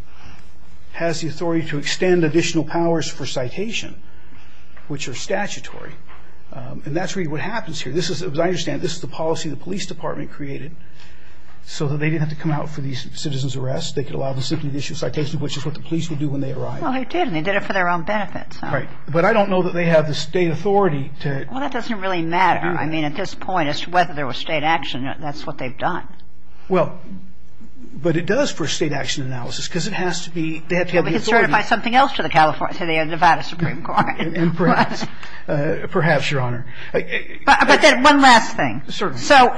has the authority to extend additional powers for citation, which are statutory. And that's really what happens here. This is – as I understand, this is the policy the police department created so that they didn't have to come out for these citizens' arrests. They could allow them to simply issue citations, which is what the police would do when they arrived. Well, they did, and they did it for their own benefit, so. Right, but I don't know that they have the state authority to – Well, that doesn't really matter. I mean, at this point, as to whether there was state action, that's what they've done. Well, but it does for state action analysis because it has to be – they have to have the authority. Well, we can certify something else to the Nevada Supreme Court. Perhaps, Your Honor. But then one last thing. Certainly. So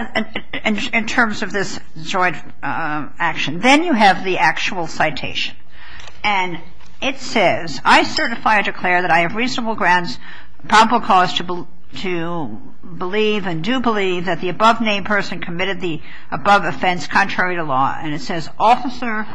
in terms of this joint action, then you have the actual citation. And it says, I certify or declare that I have reasonable grounds, probable cause to believe and do believe that the above-named person committed the above offense contrary to law. And it says, Officer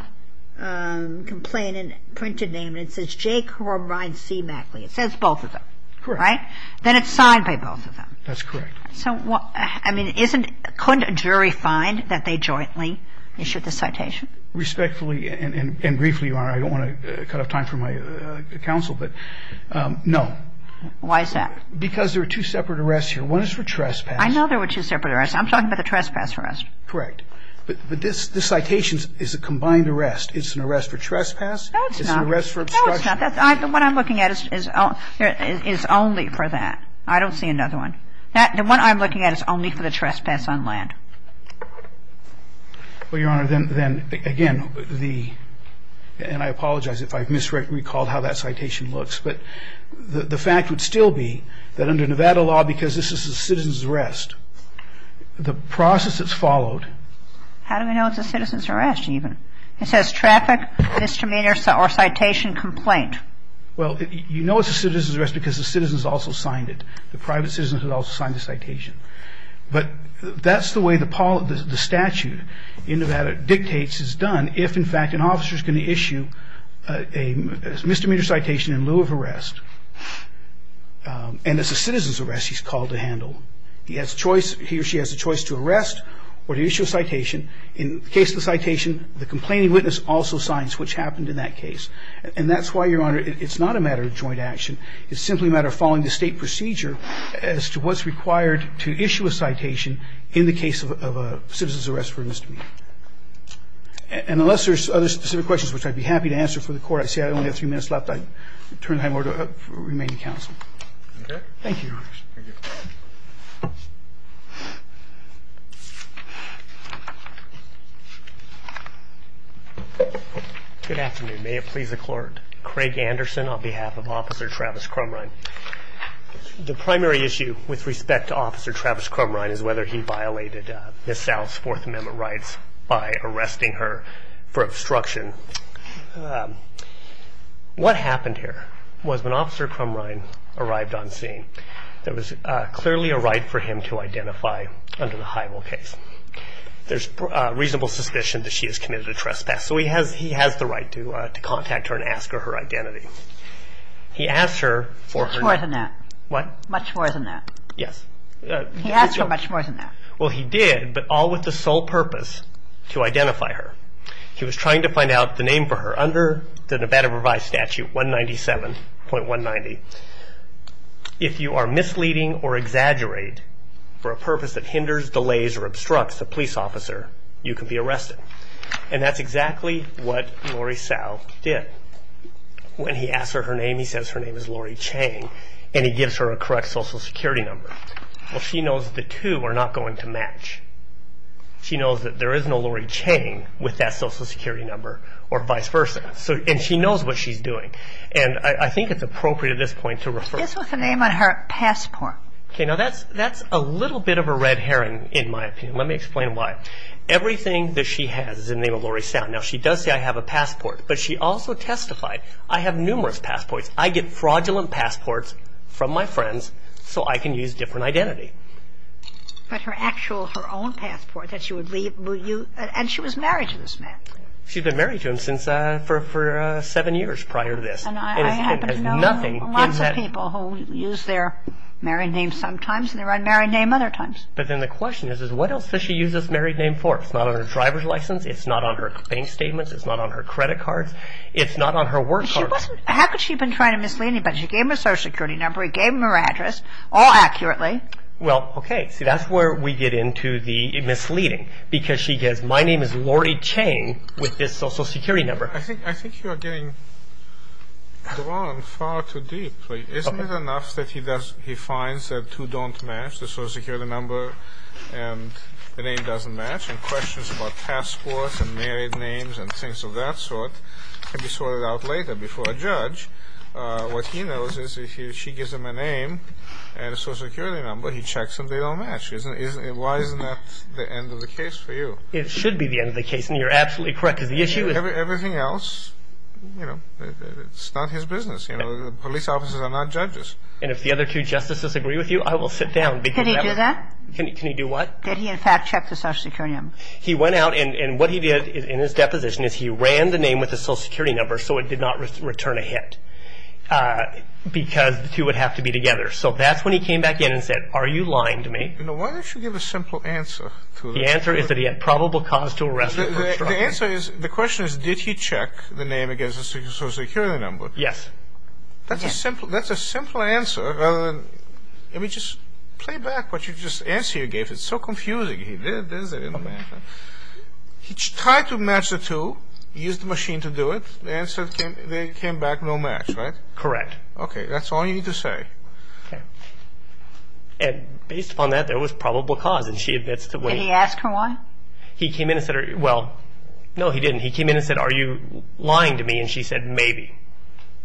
complaining, printed name. And it says, J. Corrine C. Mackley. It says both of them. Correct. Right? Then it's signed by both of them. That's correct. So what – I mean, isn't – couldn't a jury find that they jointly issued the citation? Respectfully and briefly, Your Honor, I don't want to cut off time for my counsel, but no. Why is that? Because there are two separate arrests here. One is for trespass. I know there were two separate arrests. I'm talking about the trespass arrest. Correct. But this citation is a combined arrest. It's an arrest for trespass. No, it's not. It's an arrest for obstruction. No, it's not. The one I'm looking at is only for that. I don't see another one. The one I'm looking at is only for the trespass on land. Well, Your Honor, then, again, the – and I apologize if I've misrecalled how that citation looks. But the fact would still be that under Nevada law, because this is a citizen's arrest, the process that's followed – How do we know it's a citizen's arrest even? It says traffic misdemeanor or citation complaint. Well, you know it's a citizen's arrest because the citizens also signed it. The private citizens had also signed the citation. But that's the way the statute in Nevada dictates is done if, in fact, an officer is going to issue a misdemeanor citation in lieu of arrest. And it's a citizen's arrest he's called to handle. He has a choice – he or she has a choice to arrest or to issue a citation. In the case of the citation, the complaining witness also signs, which happened in that case. And that's why, Your Honor, it's not a matter of joint action. It's simply a matter of following the state procedure as to what's required to issue a citation in the case of a citizen's arrest for a misdemeanor. And unless there's other specific questions, which I'd be happy to answer for the Court, I see I only have three minutes left, I turn the time over to the remaining counsel. Okay. Thank you, Your Honor. Good afternoon. May it please the Court. Craig Anderson on behalf of Officer Travis Crumrine. The primary issue with respect to Officer Travis Crumrine is whether he violated Ms. South's Fourth Amendment rights by arresting her for obstruction. What happened here was when Officer Crumrine arrived on scene, there was clearly a right for him to identify under the high rule case. There's reasonable suspicion that she has committed a trespass. Yes, so he has the right to contact her and ask her her identity. He asked her for her name. Much more than that. What? Much more than that. Yes. He asked her much more than that. Well, he did, but all with the sole purpose to identify her. He was trying to find out the name for her. Under the Nevada Provised Statute 197.190, if you are misleading or exaggerate for a purpose that hinders, delays, or obstructs a police officer, you can be arrested. And that's exactly what Lori Sow did. When he asked her her name, he says her name is Lori Chang, and he gives her a correct Social Security number. Well, she knows the two are not going to match. She knows that there is no Lori Chang with that Social Security number or vice versa. And she knows what she's doing. And I think it's appropriate at this point to refer. It's with the name on her passport. Okay, now that's a little bit of a red herring in my opinion. Let me explain why. Everything that she has is in the name of Lori Sow. Now, she does say, I have a passport. But she also testified, I have numerous passports. I get fraudulent passports from my friends so I can use different identity. But her actual, her own passport that she would leave, and she was married to this man. She'd been married to him for seven years prior to this. And I happen to know lots of people who use their married name sometimes and their unmarried name other times. But then the question is, what else does she use this married name for? It's not on her driver's license. It's not on her bank statements. It's not on her credit cards. It's not on her work card. How could she have been trying to mislead anybody? She gave him her Social Security number. She gave him her address, all accurately. Well, okay, see that's where we get into the misleading. Because she says, my name is Lori Chang with this Social Security number. I think you are getting drawn far too deep. Isn't it enough that he finds that two don't match? The Social Security number and the name doesn't match. And questions about passports and married names and things of that sort can be sorted out later before a judge. What he knows is if she gives him a name and a Social Security number, he checks and they don't match. Why isn't that the end of the case for you? It should be the end of the case, and you're absolutely correct. Because the issue is Everything else, it's not his business. The police officers are not judges. And if the other two justices agree with you, I will sit down. Can he do that? Can he do what? Did he, in fact, check the Social Security number? He went out and what he did in his deposition is he ran the name with the Social Security number so it did not return a hit because the two would have to be together. So that's when he came back in and said, are you lying to me? Why don't you give a simple answer? The answer is that he had probable cause to arrest her for obstruction. The question is, did he check the name against the Social Security number? Yes. That's a simple answer. Let me just play back what you just answered. It's so confusing. He tried to match the two. He used the machine to do it. The answer came back no match, right? Correct. Okay. That's all you need to say. Okay. And based upon that, there was probable cause, and she admits to waiting. Did he ask her why? He came in and said, well, no, he didn't. And he came in and said, are you lying to me? And she said, maybe.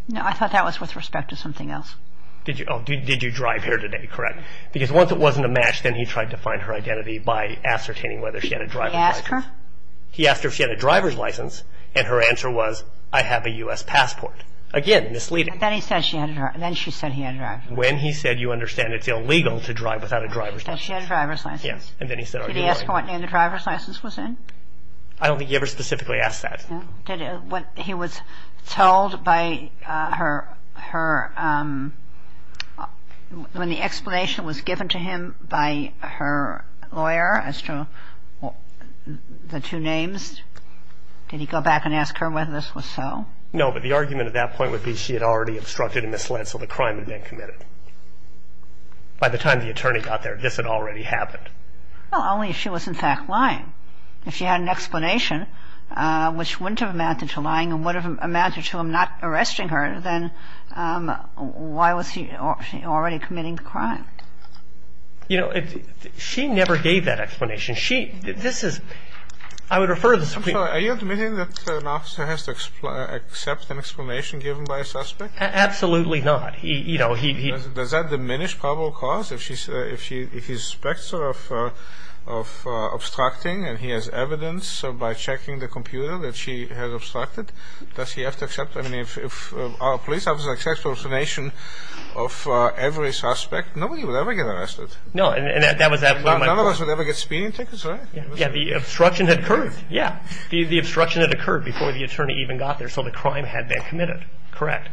No, I thought that was with respect to something else. Did you drive here today? Correct. Because once it wasn't a match, then he tried to find her identity by ascertaining whether she had a driver's license. Did he ask her? He asked her if she had a driver's license, and her answer was, I have a U.S. passport. Again, misleading. And then he said she had a driver's license. Then she said he had a driver's license. When he said, you understand it's illegal to drive without a driver's license. That she had a driver's license. Yes. And then he said, are you lying? Did he ask her what name the driver's license was in? I don't think he ever specifically asked that. Did he? When he was told by her, when the explanation was given to him by her lawyer as to the two names, did he go back and ask her whether this was so? No, but the argument at that point would be she had already obstructed and misled, so the crime had been committed. By the time the attorney got there, this had already happened. Well, only if she was in fact lying. If she had an explanation, which wouldn't have amounted to lying and would have amounted to him not arresting her, then why was he already committing the crime? You know, she never gave that explanation. She, this is, I would refer to the Supreme Court. Are you admitting that an officer has to accept an explanation given by a suspect? Absolutely not. Does that diminish probable cause? If he suspects of obstructing and he has evidence by checking the computer that she has obstructed, does he have to accept, I mean, if a police officer accepts an explanation of every suspect, nobody would ever get arrested. No, and that was absolutely my point. None of us would ever get speeding tickets, right? Yeah, the obstruction had occurred, yeah. The obstruction had occurred before the attorney even got there, so the crime had been committed. Correct.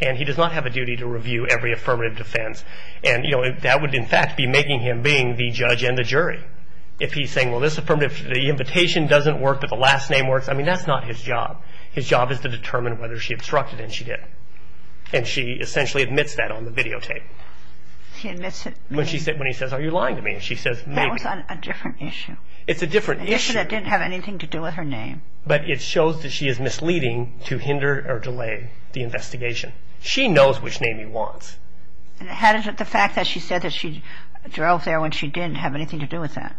And he does not have a duty to review every affirmative defense. And, you know, that would in fact be making him being the judge and the jury. If he's saying, well, this affirmative, the invitation doesn't work, but the last name works, I mean, that's not his job. His job is to determine whether she obstructed and she didn't. And she essentially admits that on the videotape. She admits it. When he says, are you lying to me? She says, maybe. That was on a different issue. It's a different issue. It didn't have anything to do with her name. But it shows that she is misleading to hinder or delay the investigation. She knows which name he wants. How does the fact that she said that she drove there when she didn't have anything to do with that?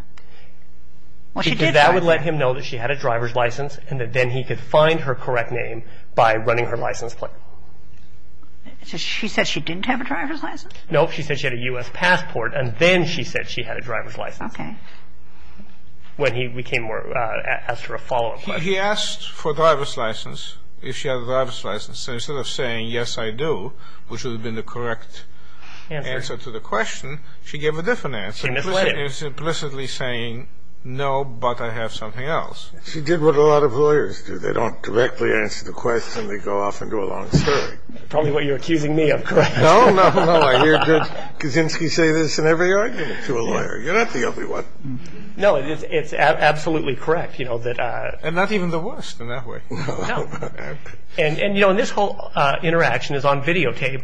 Well, she did drive there. Because that would let him know that she had a driver's license and that then he could find her correct name by running her license plate. So she said she didn't have a driver's license? Nope, she said she had a U.S. passport, and then she said she had a driver's license. Okay. When he asked her a follow-up question. He asked for a driver's license, if she had a driver's license. So instead of saying, yes, I do, which would have been the correct answer to the question, she gave a different answer. She misled him. Implicitly saying, no, but I have something else. She did what a lot of lawyers do. They don't directly answer the question. They go off into a long story. Probably what you're accusing me of, correct? No, no, no. I hear good Kaczynski say this in every argument to a lawyer. You're not the only one. No, it's absolutely correct. And not even the worst in that way. No. And this whole interaction is on videotape.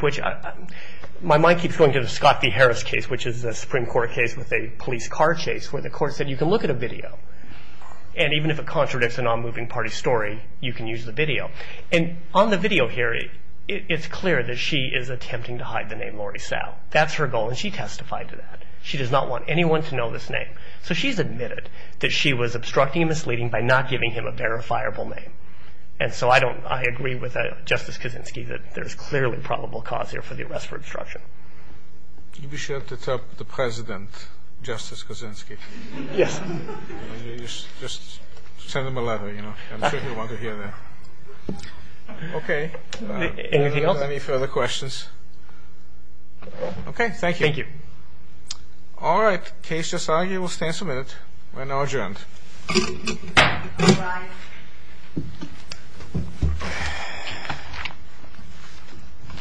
My mind keeps going to the Scott v. Harris case, which is a Supreme Court case with a police car chase, where the court said you can look at a video, and even if it contradicts a non-moving-party story, you can use the video. And on the video here, it's clear that she is attempting to hide the name Lori Sal. That's her goal, and she testified to that. She does not want anyone to know this name. So she's admitted that she was obstructing and misleading by not giving him a verifiable name. And so I agree with Justice Kaczynski that there's clearly probable cause here for the arrest for obstruction. You'd be sure to tell the President, Justice Kaczynski. Yes. Just send him a letter, you know. I'm sure he'll want to hear that. Okay. Anything else? Any further questions? Okay, thank you. Thank you. All right. Case just argued. We'll stand for a minute. We're now adjourned.